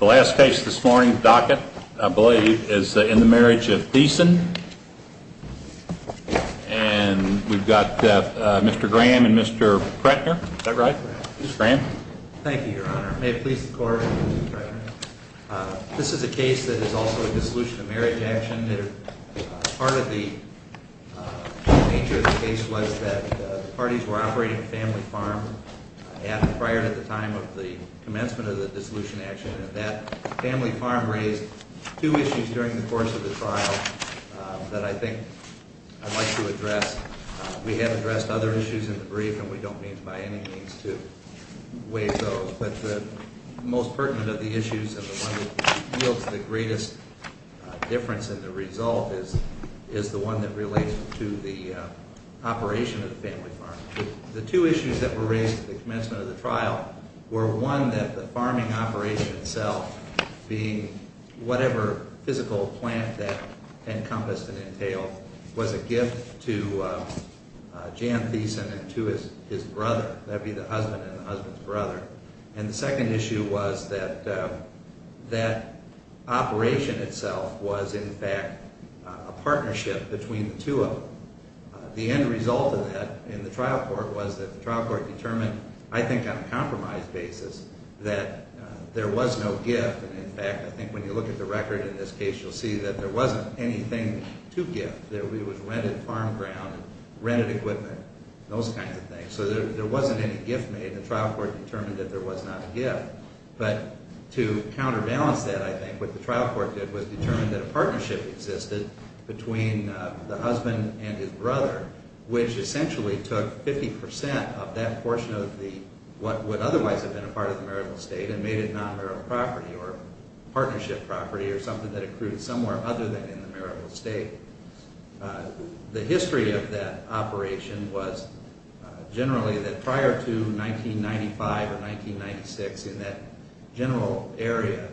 The last case this morning, docket, I believe, is in the Marriage of Thiessen. And we've got Mr. Graham and Mr. Kretner. Is that right, Mr. Graham? Thank you, Your Honor. May it please the Court, Mr. Kretner. This is a case that is also a dissolution of marriage action. Part of the nature of the case was that the parties were operating a family farm prior to the time of the commencement of the dissolution action. And that family farm raised two issues during the course of the trial that I think I'd like to address. We have addressed other issues in the brief, and we don't mean by any means to waive those. But the most pertinent of the issues and the one that yields the greatest difference in the result is the one that relates to the operation of the family farm. The two issues that were raised at the commencement of the trial were, one, that the farming operation itself being whatever physical plant that encompassed and entailed was a gift to Jan Thiessen and to his brother. That would be the husband and the husband's brother. And the second issue was that that operation itself was, in fact, a partnership between the two of them. The end result of that in the trial court was that the trial court determined, I think on a compromise basis, that there was no gift. In fact, I think when you look at the record in this case, you'll see that there wasn't anything to gift. It was rented farm ground, rented equipment, those kinds of things. So there wasn't any gift made. The trial court determined that there was not a gift. But to counterbalance that, I think, what the trial court did was determine that a partnership existed between the husband and his brother, which essentially took 50% of that portion of what would otherwise have been a part of the marital estate and made it non-marital property or partnership property or something that accrued somewhere other than in the marital estate. The history of that operation was generally that prior to 1995 or 1996, in that general area,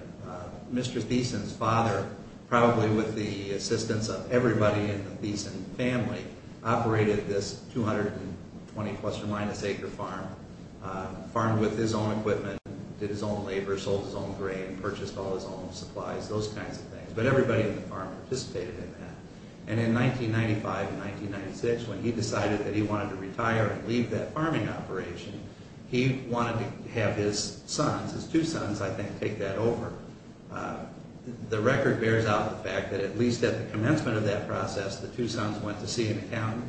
Mr. Thiessen's father, probably with the assistance of everybody in the Thiessen family, operated this 220 plus or minus acre farm, farmed with his own equipment, did his own labor, sold his own grain, purchased all his own supplies, those kinds of things. But everybody in the farm participated in that. And in 1995 and 1996, when he decided that he wanted to retire and leave that farming operation, he wanted to have his sons, his two sons, I think, take that over. The record bears out the fact that at least at the commencement of that process, the two sons went to see an accountant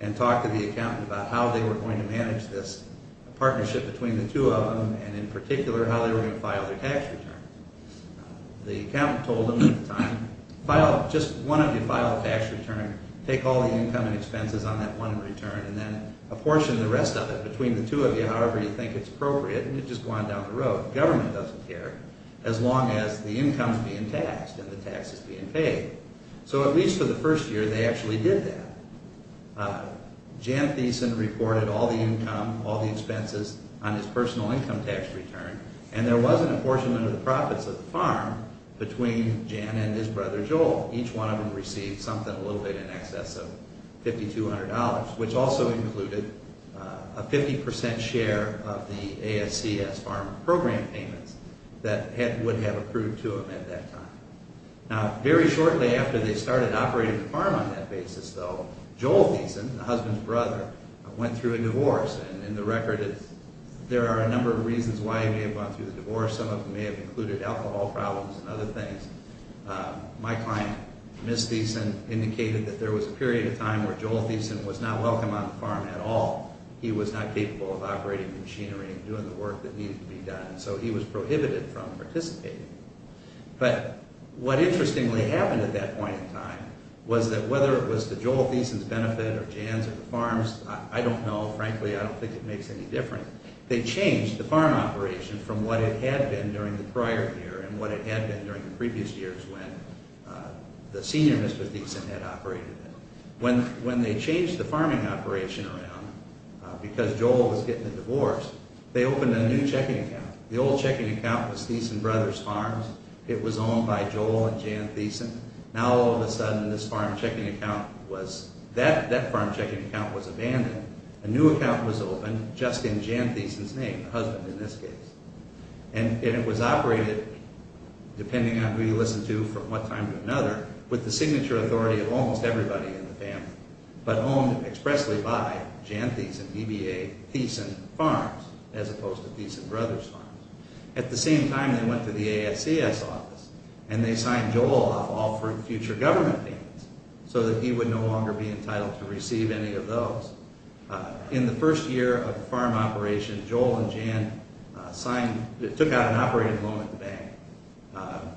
and talked to the accountant about how they were going to manage this partnership between the two of them and, in particular, how they were going to file their tax return. The accountant told them at the time, just one of you file a tax return, take all the income and expenses on that one return, and then apportion the rest of it between the two of you, however you think it's appropriate, and you just go on down the road. Government doesn't care, as long as the income is being taxed and the tax is being paid. So at least for the first year, they actually did that. Jan Thiessen reported all the income, all the expenses on his personal income tax return, and there was an apportionment of the profits of the farm between Jan and his brother Joel. Each one of them received something a little bit in excess of $5,200, which also included a 50% share of the ASCS farm program payments that would have approved to them at that time. Now, very shortly after they started operating the farm on that basis, though, Joel Thiessen, the husband's brother, went through a divorce, and the record is there are a number of reasons why he may have gone through the divorce. Some of them may have included alcohol problems and other things. My client, Ms. Thiessen, indicated that there was a period of time where Joel Thiessen was not welcome on the farm at all. He was not capable of operating machinery and doing the work that needed to be done, so he was prohibited from participating. But what interestingly happened at that point in time was that whether it was to Joel Thiessen's benefit or Jan's or the farm's, I don't know. Frankly, I don't think it makes any difference. They changed the farm operation from what it had been during the prior year and what it had been during the previous years when the senior Mr. Thiessen had operated it. When they changed the farming operation around, because Joel was getting a divorce, they opened a new checking account. The old checking account was Thiessen Brothers Farms. It was owned by Joel and Jan Thiessen. Now, all of a sudden, that farm checking account was abandoned. A new account was opened just in Jan Thiessen's name, her husband in this case. And it was operated, depending on who you listen to from one time to another, with the signature authority of almost everybody in the family, but owned expressly by Jan Thiessen, EBA, Thiessen Farms, as opposed to Thiessen Brothers Farms. At the same time, they went to the ASCS office and they signed Joel off all future government payments so that he would no longer be entitled to receive any of those. In the first year of the farm operation, Joel and Jan took out an operating loan at the bank.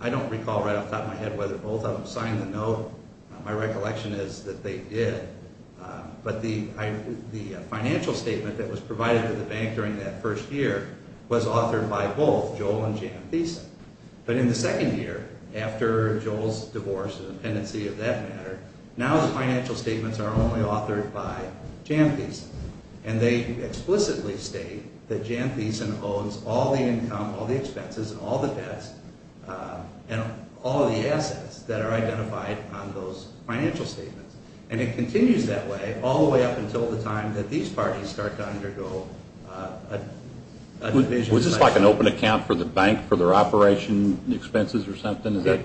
I don't recall right off the top of my head whether both of them signed the note. My recollection is that they did. But the financial statement that was provided to the bank during that first year was authored by both Joel and Jan Thiessen. But in the second year, after Joel's divorce and dependency of that matter, now the financial statements are only authored by Jan Thiessen. And they explicitly state that Jan Thiessen owns all the income, all the expenses, all the debts, and all the assets that are identified on those financial statements. And it continues that way all the way up until the time that these parties start to undergo a division. Was this like an open account for the bank for their operation expenses or something? Is that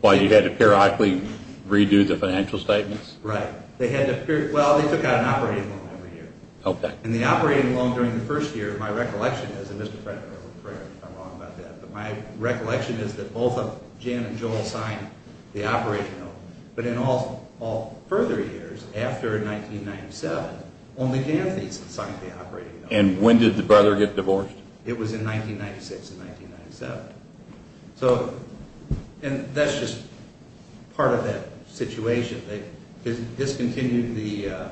why you had to periodically redo the financial statements? Right. Well, they took out an operating loan every year. And the operating loan during the first year, my recollection is that both Jan and Joel signed the operating loan. But in all further years, after 1997, only Jan Thiessen signed the operating loan. And when did the brother get divorced? It was in 1996 and 1997. And that's just part of that situation. They discontinued the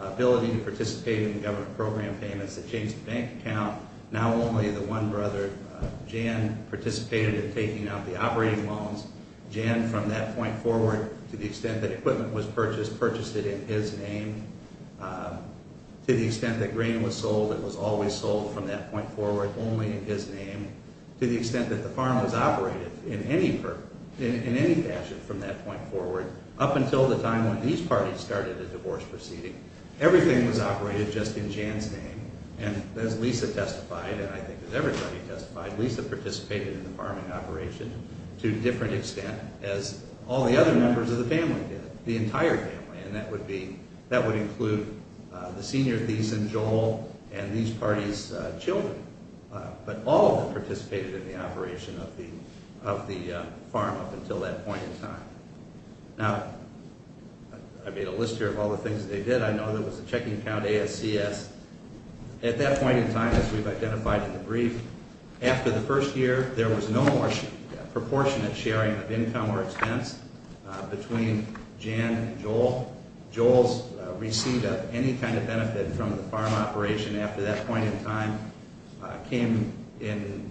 ability to participate in government program payments. They changed the bank account. Now only the one brother, Jan, participated in taking out the operating loans. Jan, from that point forward, to the extent that equipment was purchased, purchased it in his name. To the extent that grain was sold, it was always sold from that point forward only in his name. To the extent that the farm was operated in any fashion from that point forward, up until the time when these parties started a divorce proceeding. Everything was operated just in Jan's name. And as Lisa testified, and I think as everybody testified, Lisa participated in the farming operation to a different extent as all the other members of the family did. The entire family, and that would include the senior Thiessen, Joel, and these parties' children. But all of them participated in the operation of the farm up until that point in time. Now, I made a list here of all the things they did. I know there was a checking account ASCS. At that point in time, as we've identified in the brief, after the first year, there was no more proportionate sharing of income or expense between Jan and Joel. Joel's receipt of any kind of benefit from the farm operation after that point in time came in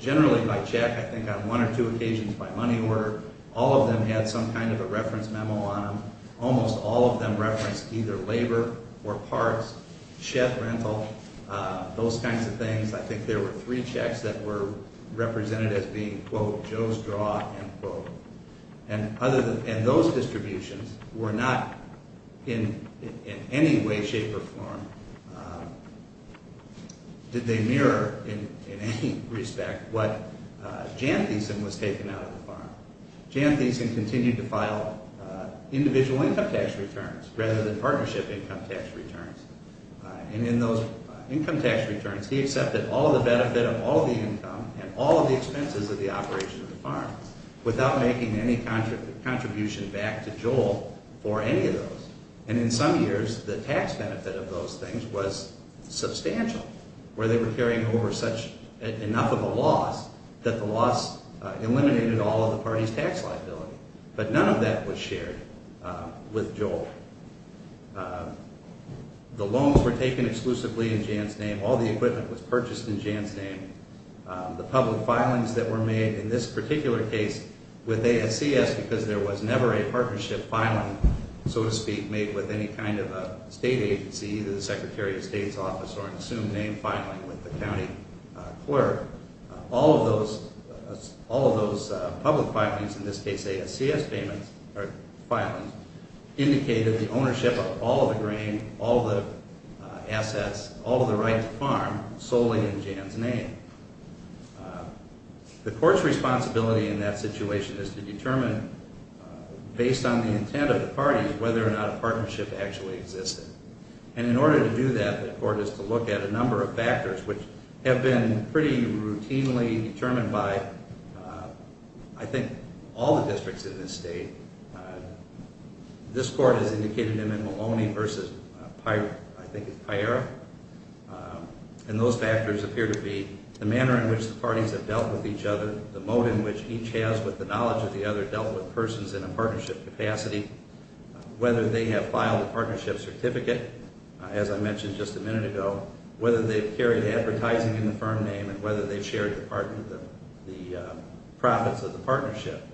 generally by check, I think on one or two occasions by money order. All of them had some kind of a reference memo on them. Almost all of them referenced either labor or parts, shed rental, those kinds of things. I think there were three checks that were represented as being, quote, Joe's draw, end quote. And those distributions were not in any way, shape, or form, did they mirror in any respect what Jan Thiessen was taking out of the farm. Jan Thiessen continued to file individual income tax returns rather than partnership income tax returns. And in those income tax returns, he accepted all of the benefit of all of the income and all of the expenses of the operation of the farm without making any contribution back to Joel for any of those. And in some years, the tax benefit of those things was substantial, where they were carrying over enough of a loss that the loss eliminated all of the party's tax liability. But none of that was shared with Joel. The loans were taken exclusively in Jan's name. All the equipment was purchased in Jan's name. The public filings that were made in this particular case with ASCS, because there was never a partnership filing, so to speak, made with any kind of a state agency, either the Secretary of State's office or an assumed name filing with the county clerk. All of those public filings, in this case ASCS filings, indicated the ownership of all of the grain, all of the assets, all of the rights of the farm, solely in Jan's name. The court's responsibility in that situation is to determine, based on the intent of the parties, whether or not a partnership actually existed. And in order to do that, the court is to look at a number of factors, which have been pretty routinely determined by, I think, all the districts in this state. This court has indicated them in Maloney versus, I think it's Piera. And those factors appear to be the manner in which the parties have dealt with each other, the mode in which each has, with the knowledge of the other, dealt with persons in a partnership capacity, whether they have filed a partnership certificate, as I mentioned just a minute ago, whether they've carried advertising in the firm name, and whether they've shared the profits of the partnership.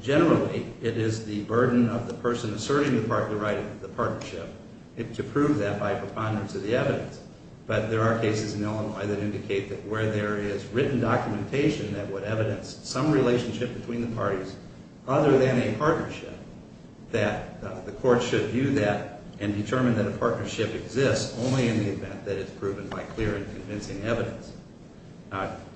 Generally, it is the burden of the person asserting the right of the partnership to prove that by preponderance of the evidence. But there are cases in Illinois that indicate that where there is written documentation that would evidence some relationship between the parties, other than a partnership, that the court should view that and determine that a partnership exists only in the event that it's proven by clear and convincing evidence.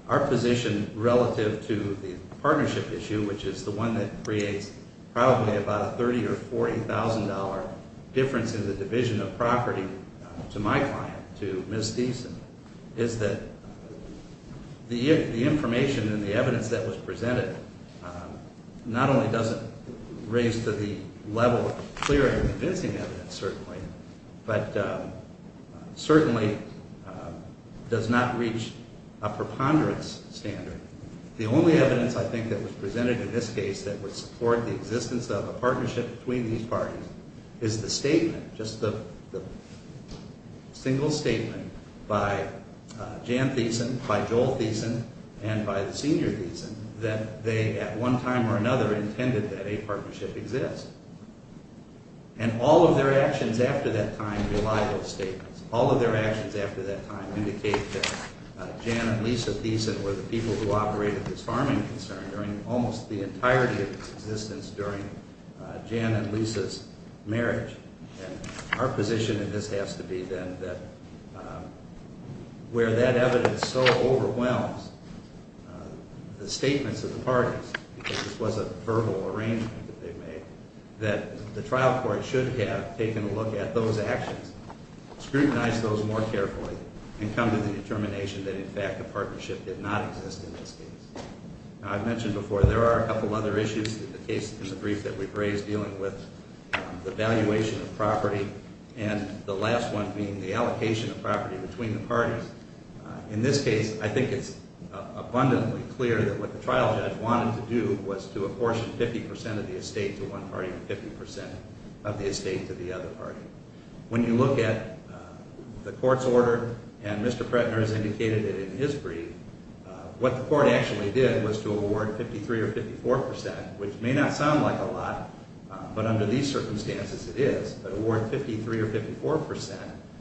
Our position relative to the partnership issue, which is the one that creates probably about a $30,000 or $40,000 difference in the division of property to my client, to Ms. Deason, is that the information and the evidence that was presented not only doesn't raise to the level of clear and convincing evidence, certainly, but certainly does not reach a preponderance standard. The only evidence, I think, that was presented in this case that would support the existence of a partnership between these parties is the statement, just the single statement, by Jan Deason, by Joel Deason, and by the senior Deason, that they at one time or another intended that a partnership exist. And all of their actions after that time rely on those statements. All of their actions after that time indicate that Jan and Lisa Deason were the people who operated this farming concern during almost the entirety of its existence during Jan and Lisa's marriage. And our position in this has to be then that where that evidence so overwhelms the statements of the parties, because this was a verbal arrangement that they made, that the trial court should have taken a look at those actions, scrutinized those more carefully, and come to the determination that, in fact, a partnership did not exist in this case. Now, I've mentioned before there are a couple other issues in the brief that we've raised dealing with the valuation of property and the last one being the allocation of property between the parties. In this case, I think it's abundantly clear that what the trial judge wanted to do was to apportion 50% of the estate to one party and 50% of the estate to the other party. When you look at the court's order, and Mr. Prettner has indicated it in his brief, what the court actually did was to award 53% or 54%, which may not sound like a lot, but under these circumstances it is, but award 53% or 54%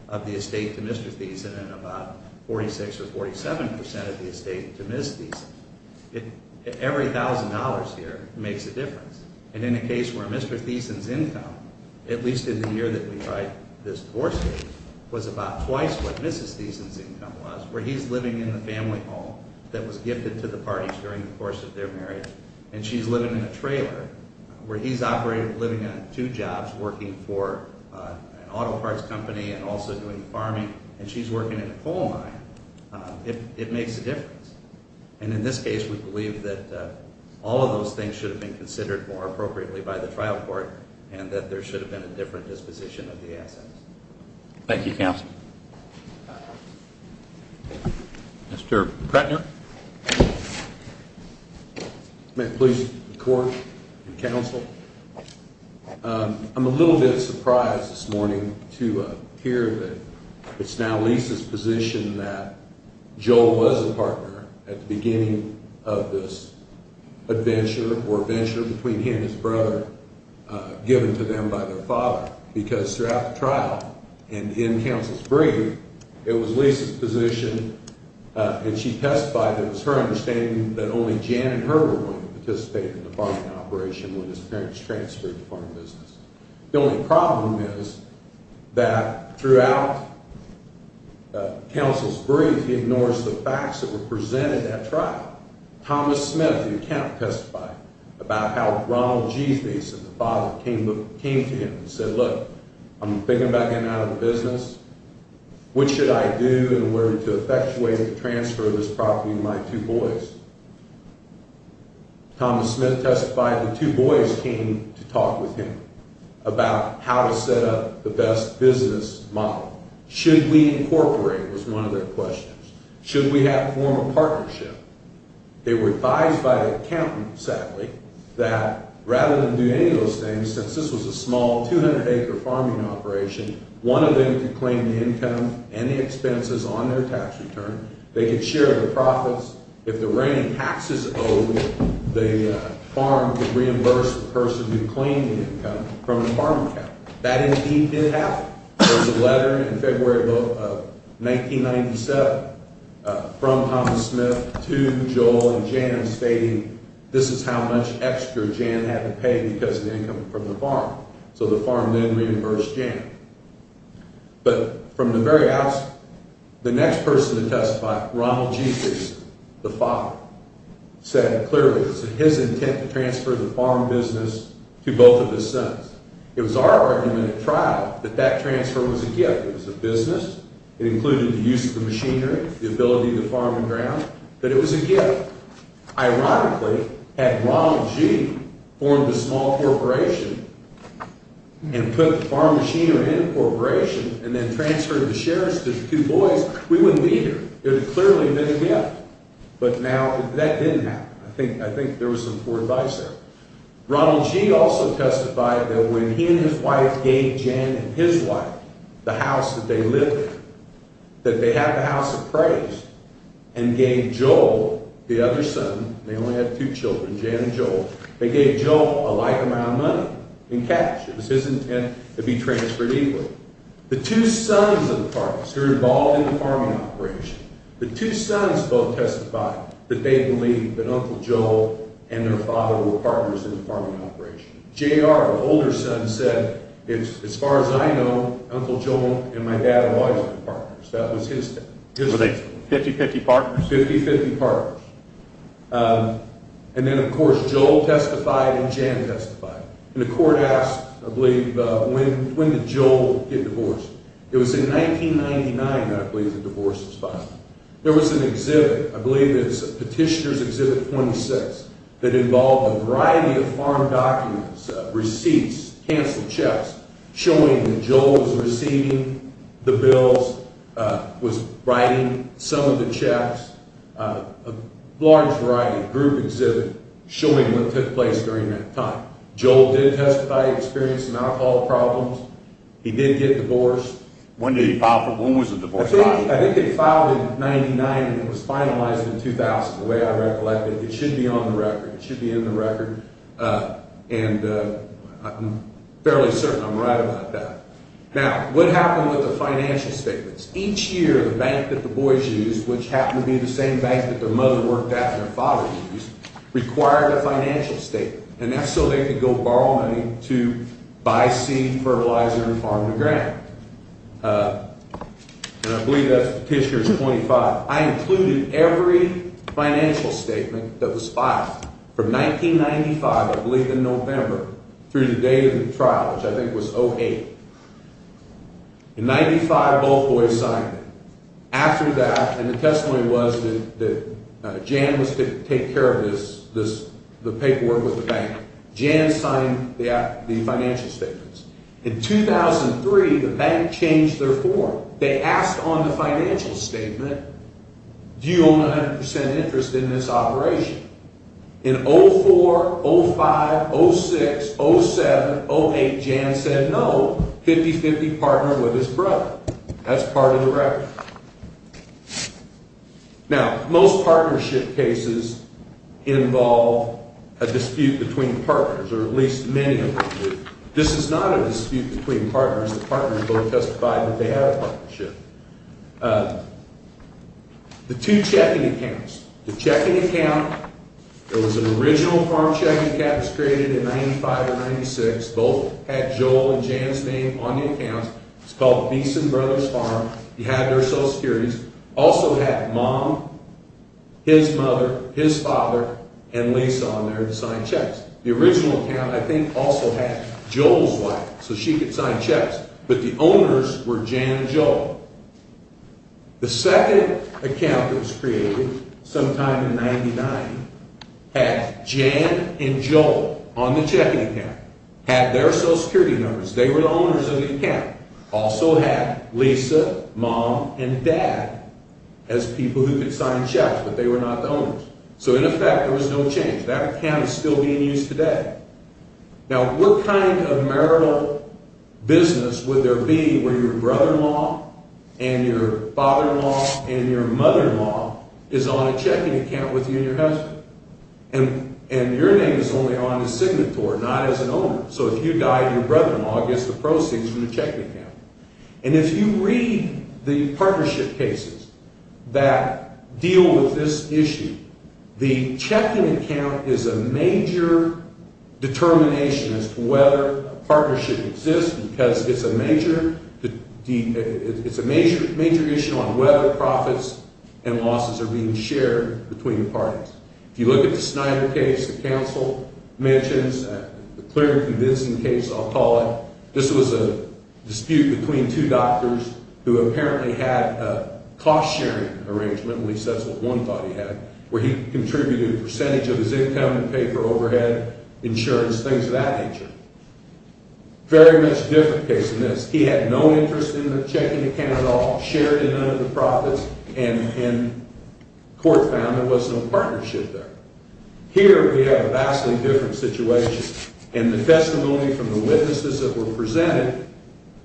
of the estate to Mr. Deason and about 46% or 47% of the estate to Ms. Deason. Every $1,000 here makes a difference. And in a case where Mr. Deason's income, at least in the year that we tried this divorce case, was about twice what Ms. Deason's income was, where he's living in the family home that was gifted to the parties during the course of their marriage and she's living in a trailer, where he's operating, living on two jobs, working for an auto parts company and also doing farming, and she's working in a coal mine, it makes a difference. And in this case, we believe that all of those things should have been considered more appropriately by the trial court and that there should have been a different disposition of the assets. Thank you, counsel. Mr. Pretner? May it please the court and counsel? I'm a little bit surprised this morning to hear that it's now Lisa's position that Joel was the partner at the beginning of this adventure or venture between he and his brother given to them by their father. Because throughout the trial and in counsel's brief, it was Lisa's position and she testified that it was her understanding that only Jan and Herbert wanted to participate in the farming operation when his parents transferred to farming business. The only problem is that throughout counsel's brief, he ignores the facts that were presented at trial. Thomas Smith, the accountant, testified about how Ronald G. Mason, the father, came to him and said, look, I'm thinking about getting out of the business. What should I do and where to effectuate the transfer of this property to my two boys? Thomas Smith testified the two boys came to talk with him about how to set up the best business model. Should we incorporate was one of their questions. Should we have a form of partnership? They were advised by the accountant, sadly, that rather than do any of those things, since this was a small 200-acre farming operation, one of them could claim the income and the expenses on their tax return. They could share their profits. If the reigning taxes owed, the farm could reimburse the person who claimed the income from the farm account. That indeed did happen. There was a letter in February of 1997 from Thomas Smith to Joel and Jan stating, this is how much extra Jan had to pay because of the income from the farm. So the farm then reimbursed Jan. But from the very outset, the next person to testify, Ronald G. Mason, the father, said clearly, it was his intent to transfer the farm business to both of his sons. It was our argument at trial that that transfer was a gift. It was a business. It included the use of the machinery, the ability to farm and ground. But it was a gift. Ironically, had Ronald G. formed a small corporation and put the farm machinery in a corporation and then transferred the shares to the two boys, we wouldn't be here. It would have clearly been a gift. But now that didn't happen. I think there was some poor advice there. Ronald G. also testified that when he and his wife gave Jan and his wife the house that they lived in, that they had the house appraised, and gave Joel, the other son, they only had two children, Jan and Joel, they gave Joel a like amount of money in cash. It was his intent to be transferred equally. The two sons of the farmers who were involved in the farming operation, The two sons both testified that they believed that Uncle Joel and their father were partners in the farming operation. J.R., the older son, said, as far as I know, Uncle Joel and my dad have always been partners. That was his statement. Were they 50-50 partners? 50-50 partners. And then, of course, Joel testified and Jan testified. It was in 1999 that I believe the divorce was filed. There was an exhibit, I believe it was Petitioner's Exhibit 26, that involved a variety of farm documents, receipts, canceled checks, showing that Joel was receiving the bills, was writing some of the checks, a large variety, a group exhibit, showing what took place during that time. Joel did testify to experiencing alcohol problems. He did get divorced. When was the divorce filed? I think it filed in 1999 and it was finalized in 2000, the way I recollect it. It should be on the record. It should be in the record. And I'm fairly certain I'm right about that. Now, what happened with the financial statements? Each year, the bank that the boys used, which happened to be the same bank that their mother worked at and their father used, required a financial statement. And that's so they could go borrow money to buy seed, fertilizer, and farm the ground. And I believe that's Petitioner's 25. I included every financial statement that was filed from 1995, I believe in November, through the date of the trial, which I think was 08. In 95, both boys signed it. After that, and the testimony was that Jan was to take care of this, the paperwork with the bank, Jan signed the financial statements. In 2003, the bank changed their form. They asked on the financial statement, do you own 100% interest in this operation? In 04, 05, 06, 07, 08, Jan said no, 50-50, partnered with his brother. That's part of the record. Now, most partnership cases involve a dispute between partners, or at least many of them do. This is not a dispute between partners. The partners both testified that they had a partnership. The two checking accounts, the checking account, there was an original farm checking account that was created in 95 or 96. Both had Joel and Jan's name on the account. It's called Beeson Brothers Farm. You had their social securities. Also had mom, his mother, his father, and Lisa on there to sign checks. The original account, I think, also had Joel's wife so she could sign checks, but the owners were Jan and Joel. The second account that was created sometime in 99 had Jan and Joel on the checking account, had their social security numbers. They were the owners of the account. Also had Lisa, mom, and dad as people who could sign checks, but they were not the owners. So, in effect, there was no change. That account is still being used today. Now, what kind of marital business would there be where your brother-in-law and your father-in-law and your mother-in-law is on a checking account with you and your husband? And your name is only on the signatory, not as an owner. So if you die, your brother-in-law gets the proceeds from the checking account. And if you read the partnership cases that deal with this issue, the checking account is a major determination as to whether a partnership exists because it's a major issue on whether profits and losses are being shared between the parties. If you look at the Snyder case, the counsel mentions a clear and convincing case, I'll call it. This was a dispute between two doctors who apparently had a cost-sharing arrangement, at least that's what one thought he had, where he contributed a percentage of his income to pay for overhead, insurance, things of that nature. Very much different case than this. He had no interest in the checking account at all, shared in none of the profits, and court found there was no partnership there. Here we have a vastly different situation, and the testimony from the witnesses that were presented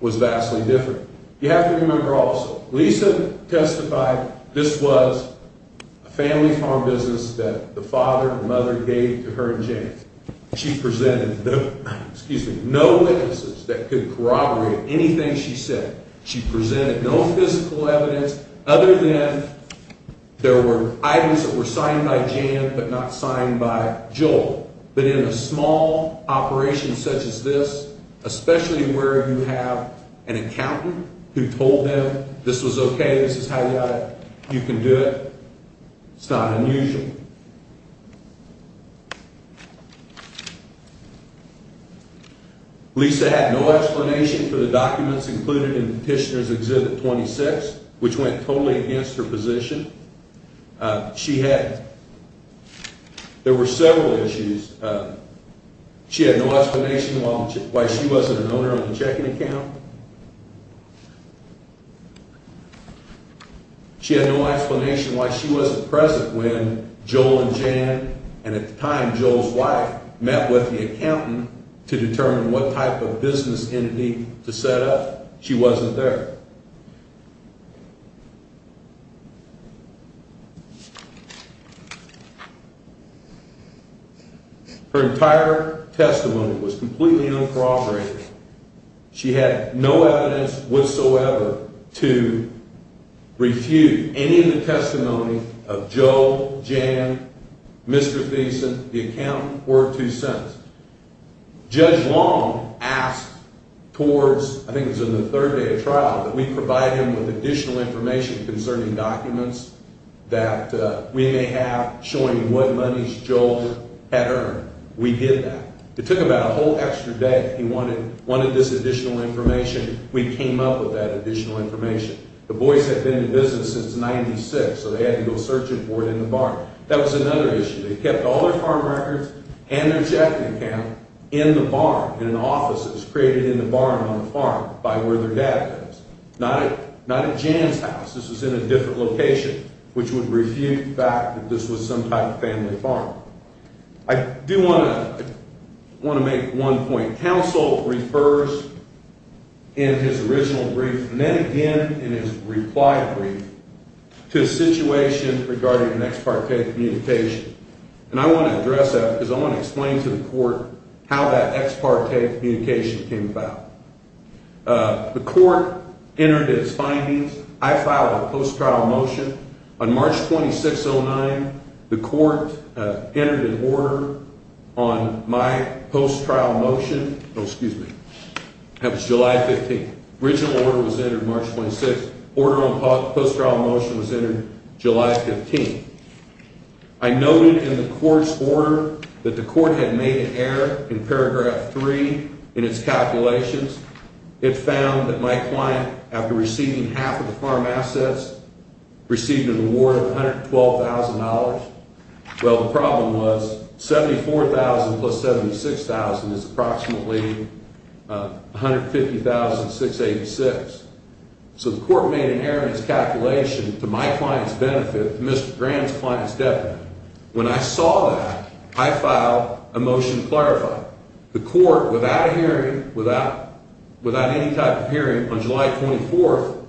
was vastly different. You have to remember also, Lisa testified this was a family farm business that the father and mother gave to her and James. She presented no witnesses that could corroborate anything she said. She presented no physical evidence other than there were items that were signed by James, but not signed by Joel. But in a small operation such as this, especially where you have an accountant who told them this was okay, this is how you got it, you can do it, it's not unusual. Lisa had no explanation for the documents included in Petitioner's Exhibit 26, which went totally against her position. There were several issues. She had no explanation why she wasn't an owner of the checking account. She had no explanation why she wasn't present when Joel and Jan, and at the time Joel's wife, met with the accountant to determine what type of business entity to set up. She wasn't there. Her entire testimony was completely uncorroborated. She had no evidence whatsoever to refute any of the testimony of Joel, Jan, Mr. Thiessen, the accountant, or two sons. Judge Long asked towards, I think it was in the third day of trial, that we provide him with additional information concerning documents that we may have showing what monies Joel had earned. We did that. It took about a whole extra day. He wanted this additional information. We came up with that additional information. The boys had been in business since 96, so they had to go searching for it in the barn. That was another issue. They kept all their farm records and their checking account in the barn, in an office that was created in the barn on the farm by where their dad lives. Not at Jan's house. This was in a different location, which would refute the fact that this was some type of family farm. I do want to make one point. Counsel refers in his original brief, and then again in his reply brief, to a situation regarding an ex parte communication. I want to address that because I want to explain to the court how that ex parte communication came about. The court entered its findings. I filed a post-trial motion. On March 26, 2009, the court entered an order on my post-trial motion. Oh, excuse me. That was July 15th. Original order was entered March 26th. Order on post-trial motion was entered July 15th. I noted in the court's order that the court had made an error in paragraph 3 in its calculations. It found that my client, after receiving half of the farm assets, received an award of $112,000. Well, the problem was $74,000 plus $76,000 is approximately $150,686. So the court made an error in its calculation to my client's benefit, Mr. Grant's client's debt benefit. When I saw that, I filed a motion to clarify. The court, without any type of hearing, on July 24th,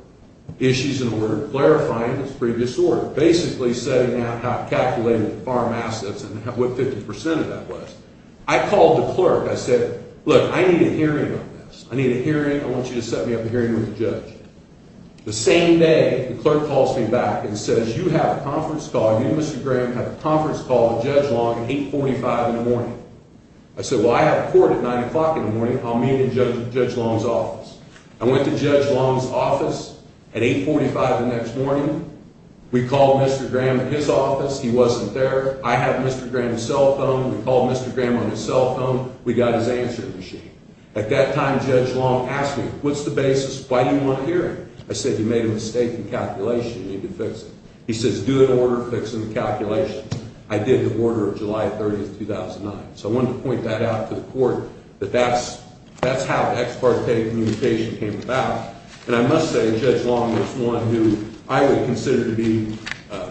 issued an order clarifying its previous order, basically setting out how it calculated the farm assets and what 50% of that was. I called the clerk. I said, look, I need a hearing on this. I need a hearing. I want you to set me up a hearing with the judge. The same day, the clerk calls me back and says, you have a conference call. You, Mr. Grant, have a conference call with Judge Long at 845 in the morning. I said, well, I have court at 9 o'clock in the morning. I'll meet in Judge Long's office. I went to Judge Long's office at 845 the next morning. We called Mr. Graham at his office. He wasn't there. I had Mr. Graham's cell phone. We called Mr. Graham on his cell phone. We got his answering machine. At that time, Judge Long asked me, what's the basis? Why do you want a hearing? I said, you made a mistake in calculation. You need to fix it. He says, do an order fixing the calculation. I did the order of July 30, 2009. So I wanted to point that out to the court that that's how ex parte communication came about. And I must say, Judge Long is one who I would consider to be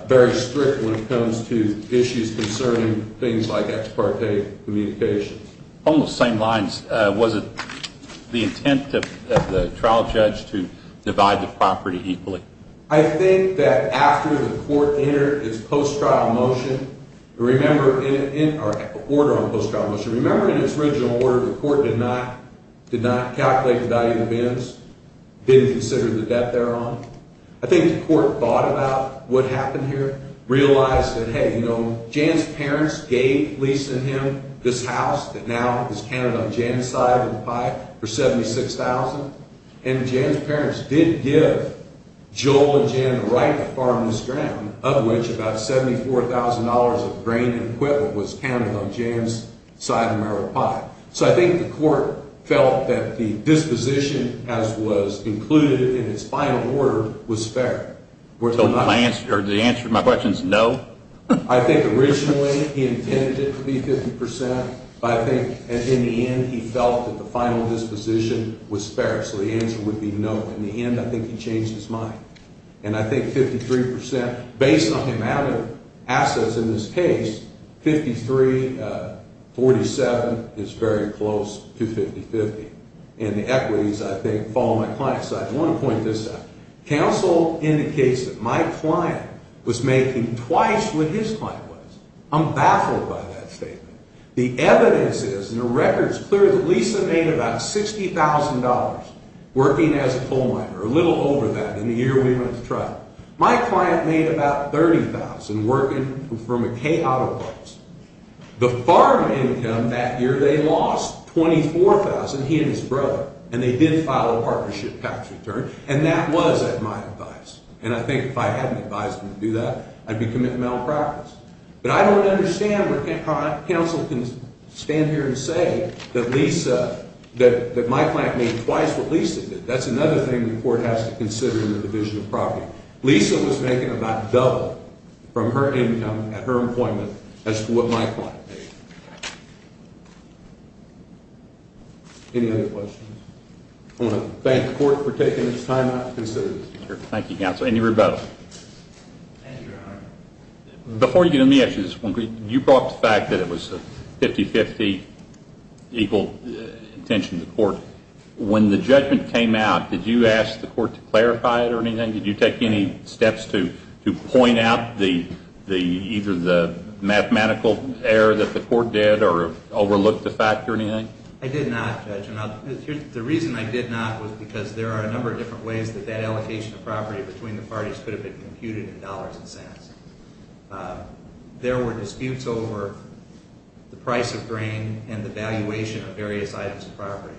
very strict when it comes to issues concerning things like ex parte communication. On those same lines, was it the intent of the trial judge to divide the property equally? I think that after the court entered its post-trial motion, or order on post-trial motion, remember in its original order, the court did not calculate the value of the bins, didn't consider the debt they're on. I think the court thought about what happened here, realized that, hey, you know, Jan's parents gave, leasing him this house that now is counted on Jan's side of the pie for $76,000. And Jan's parents did give Joel and Jan the right to farm this ground, of which about $74,000 of grain and equipment was counted on Jan's side of the pie. So I think the court felt that the disposition, as was included in its final order, was fair. So the answer to my question is no? I think originally he intended it to be 50%, but I think in the end he felt that the final disposition was fair. So the answer would be no. In the end, I think he changed his mind. And I think 53%, based on the amount of assets in this case, 53, 47 is very close to 50-50. And the equities, I think, follow my client's side. I want to point this out. Counsel indicates that my client was making twice what his client was. I'm baffled by that statement. The evidence is, and the record's clear, that Lisa made about $60,000 working as a coal miner, a little over that in the year we went to trial. My client made about $30,000 working for McKay Auto Parts. The farm income that year they lost $24,000, he and his brother, and they did file a partnership tax return. And that was at my advice. And I think if I hadn't advised them to do that, I'd be committing malpractice. But I don't understand where counsel can stand here and say that Lisa, that my client made twice what Lisa did. That's another thing the court has to consider in the division of property. Lisa was making about double from her income at her employment as to what my client made. Any other questions? I want to thank the court for taking this time out to consider this. Thank you, counsel. Any rebuttals? Before you get into the issues, you brought up the fact that it was a 50-50 equal intention of the court. When the judgment came out, did you ask the court to clarify it or anything? Did you take any steps to point out either the mathematical error that the court did or overlook the fact or anything? I did not, Judge. The reason I did not was because there are a number of different ways that that allocation of property between the parties could have been computed in dollars and cents. There were disputes over the price of grain and the valuation of various items of property.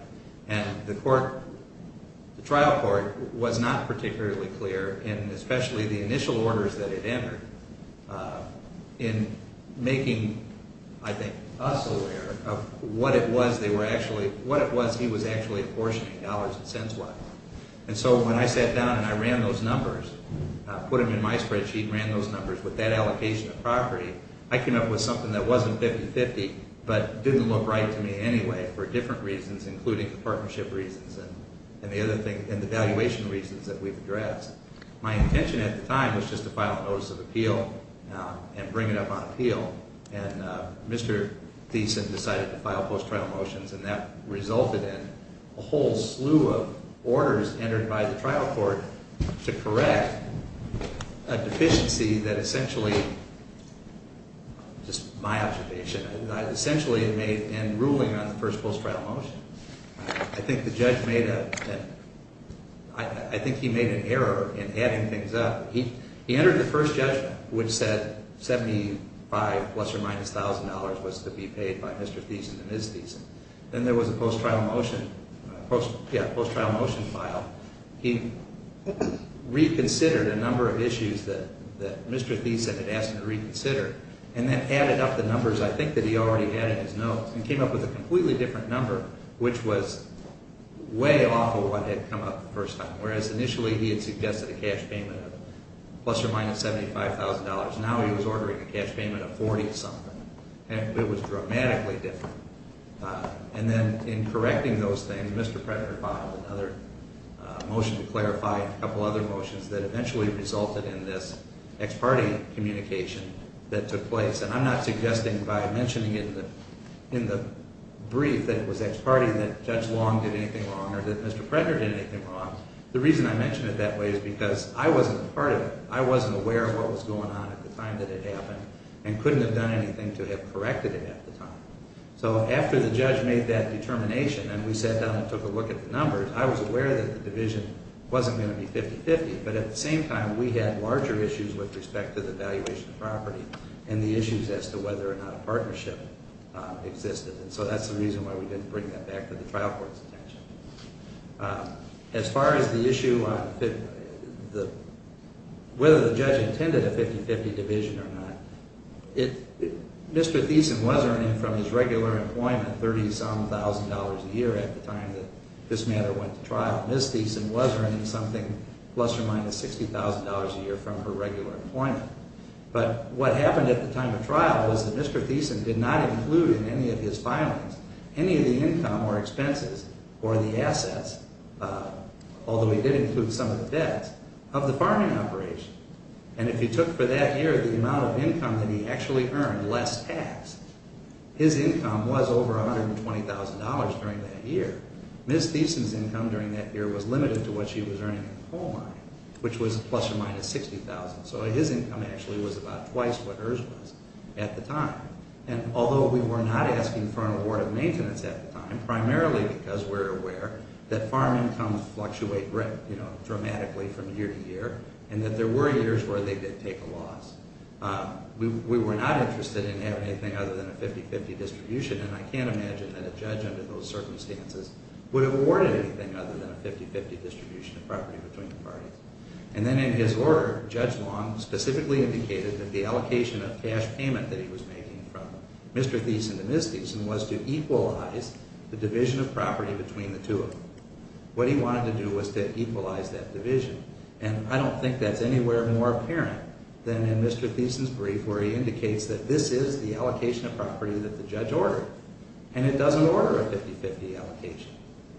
The trial court was not particularly clear in especially the initial orders that it entered in making us aware of what it was he was actually apportioning dollars and cents worth. When I sat down and I ran those numbers, put them in my spreadsheet, ran those numbers with that allocation of property, I came up with something that wasn't 50-50 but didn't look right to me anyway for different reasons including partnership reasons and the valuation reasons that we've addressed. My intention at the time was just to file a notice of appeal and bring it up on appeal. And Mr. Thiessen decided to file post-trial motions and that resulted in a whole slew of orders entered by the trial court to correct a deficiency that essentially, just my observation, that essentially made in ruling on the first post-trial motion. I think the judge made a – I think he made an error in adding things up. He entered the first judgment which said 75 plus or minus $1,000 was to be paid by Mr. Thiessen and Ms. Thiessen. Then there was a post-trial motion, yeah, post-trial motion file. He reconsidered a number of issues that Mr. Thiessen had asked him to reconsider and then added up the numbers I think that he already had in his notes and came up with a completely different number which was way off of what had come up the first time. Whereas initially he had suggested a cash payment of plus or minus $75,000, now he was ordering a cash payment of 40-something. It was dramatically different. And then in correcting those things, Mr. Predner filed another motion to clarify a couple other motions that eventually resulted in this ex parte communication that took place. And I'm not suggesting by mentioning in the brief that it was ex parte that Judge Long did anything wrong or that Mr. Predner did anything wrong. The reason I mention it that way is because I wasn't a part of it. I wasn't aware of what was going on at the time that it happened and couldn't have done anything to have corrected it at the time. So after the judge made that determination and we sat down and took a look at the numbers, I was aware that the division wasn't going to be 50-50, but at the same time we had larger issues with respect to the valuation of property and the issues as to whether or not a partnership existed. And so that's the reason why we didn't bring that back to the trial court's attention. As far as the issue on whether the judge intended a 50-50 division or not, Mr. Thiessen was earning from his regular employment 30-some thousand dollars a year at the time that this matter went to trial. Ms. Thiessen was earning something plus or minus $60,000 a year from her regular employment. But what happened at the time of trial was that Mr. Thiessen did not include in any of his filings any of the income or expenses or the assets, although he did include some of the debts, of the farming operation. And if you took for that year the amount of income that he actually earned less tax, his income was over $120,000 during that year. Ms. Thiessen's income during that year was limited to what she was earning at home, which was plus or minus $60,000. So his income actually was about twice what hers was at the time. And although we were not asking for an award of maintenance at the time, primarily because we're aware that farm incomes fluctuate dramatically from year to year, and that there were years where they did take a loss, we were not interested in having anything other than a 50-50 distribution, and I can't imagine that a judge under those circumstances would have awarded anything other than a 50-50 distribution of property between the parties. And then in his order, Judge Long specifically indicated that the allocation of cash payment that he was making from Mr. Thiessen to Ms. Thiessen was to equalize the division of property between the two of them. What he wanted to do was to equalize that division. And I don't think that's anywhere more apparent than in Mr. Thiessen's brief where he indicates that this is the allocation of property that the judge ordered. And it doesn't order a 50-50 allocation.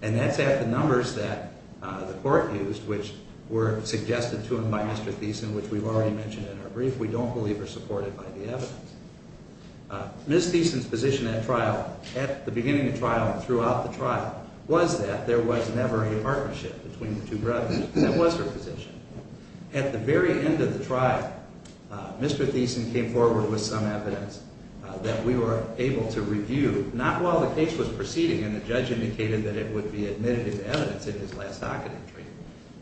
And that's at the numbers that the court used, which were suggested to him by Mr. Thiessen, which we've already mentioned in our brief. We don't believe are supported by the evidence. Ms. Thiessen's position at trial, at the beginning of trial and throughout the trial, was that there was never a partnership between the two brothers. That was her position. At the very end of the trial, Mr. Thiessen came forward with some evidence that we were able to review, not while the case was proceeding and the judge indicated that it would be admitted into evidence in his last docket entry,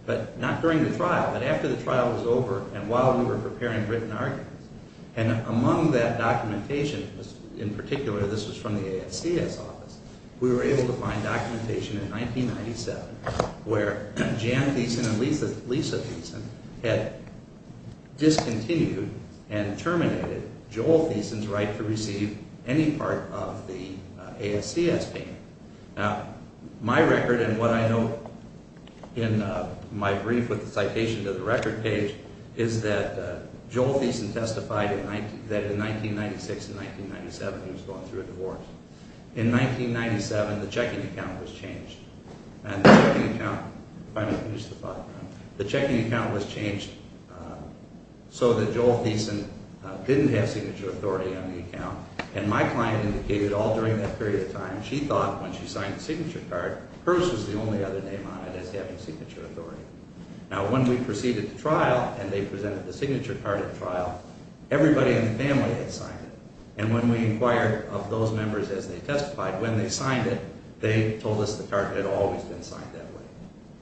but not during the trial, but after the trial was over and while we were preparing written arguments. And among that documentation, in particular this was from the ASCS office, we were able to find documentation in 1997 where Jan Thiessen and Lisa Thiessen had discontinued and terminated Joel Thiessen's right to receive any part of the ASCS payment. Now, my record and what I note in my brief with the citation to the record page is that Joel Thiessen testified that in 1996 and 1997 he was going through a divorce. In 1997, the checking account was changed. The checking account was changed so that Joel Thiessen didn't have signature authority on the account. And my client indicated all during that period of time, she thought when she signed the signature card, hers was the only other name on it as having signature authority. Now, when we proceeded to trial and they presented the signature card at trial, everybody in the family had signed it. And when we inquired of those members as they testified, when they signed it, they told us the card had always been signed that way.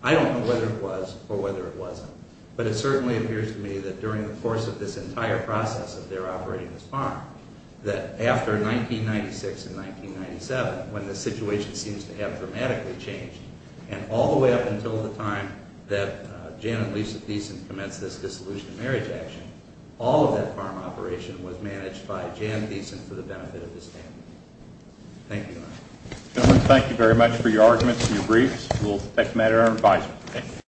I don't know whether it was or whether it wasn't, but it certainly appears to me that during the course of this entire process of their operating this farm, that after 1996 and 1997, when the situation seems to have dramatically changed, and all the way up until the time that Jan and Lisa Thiessen commenced this dissolution marriage action, all of that farm operation was managed by Jan Thiessen for the benefit of this family. Thank you. Gentlemen, thank you very much for your arguments and your briefs. We'll take them at our advisory.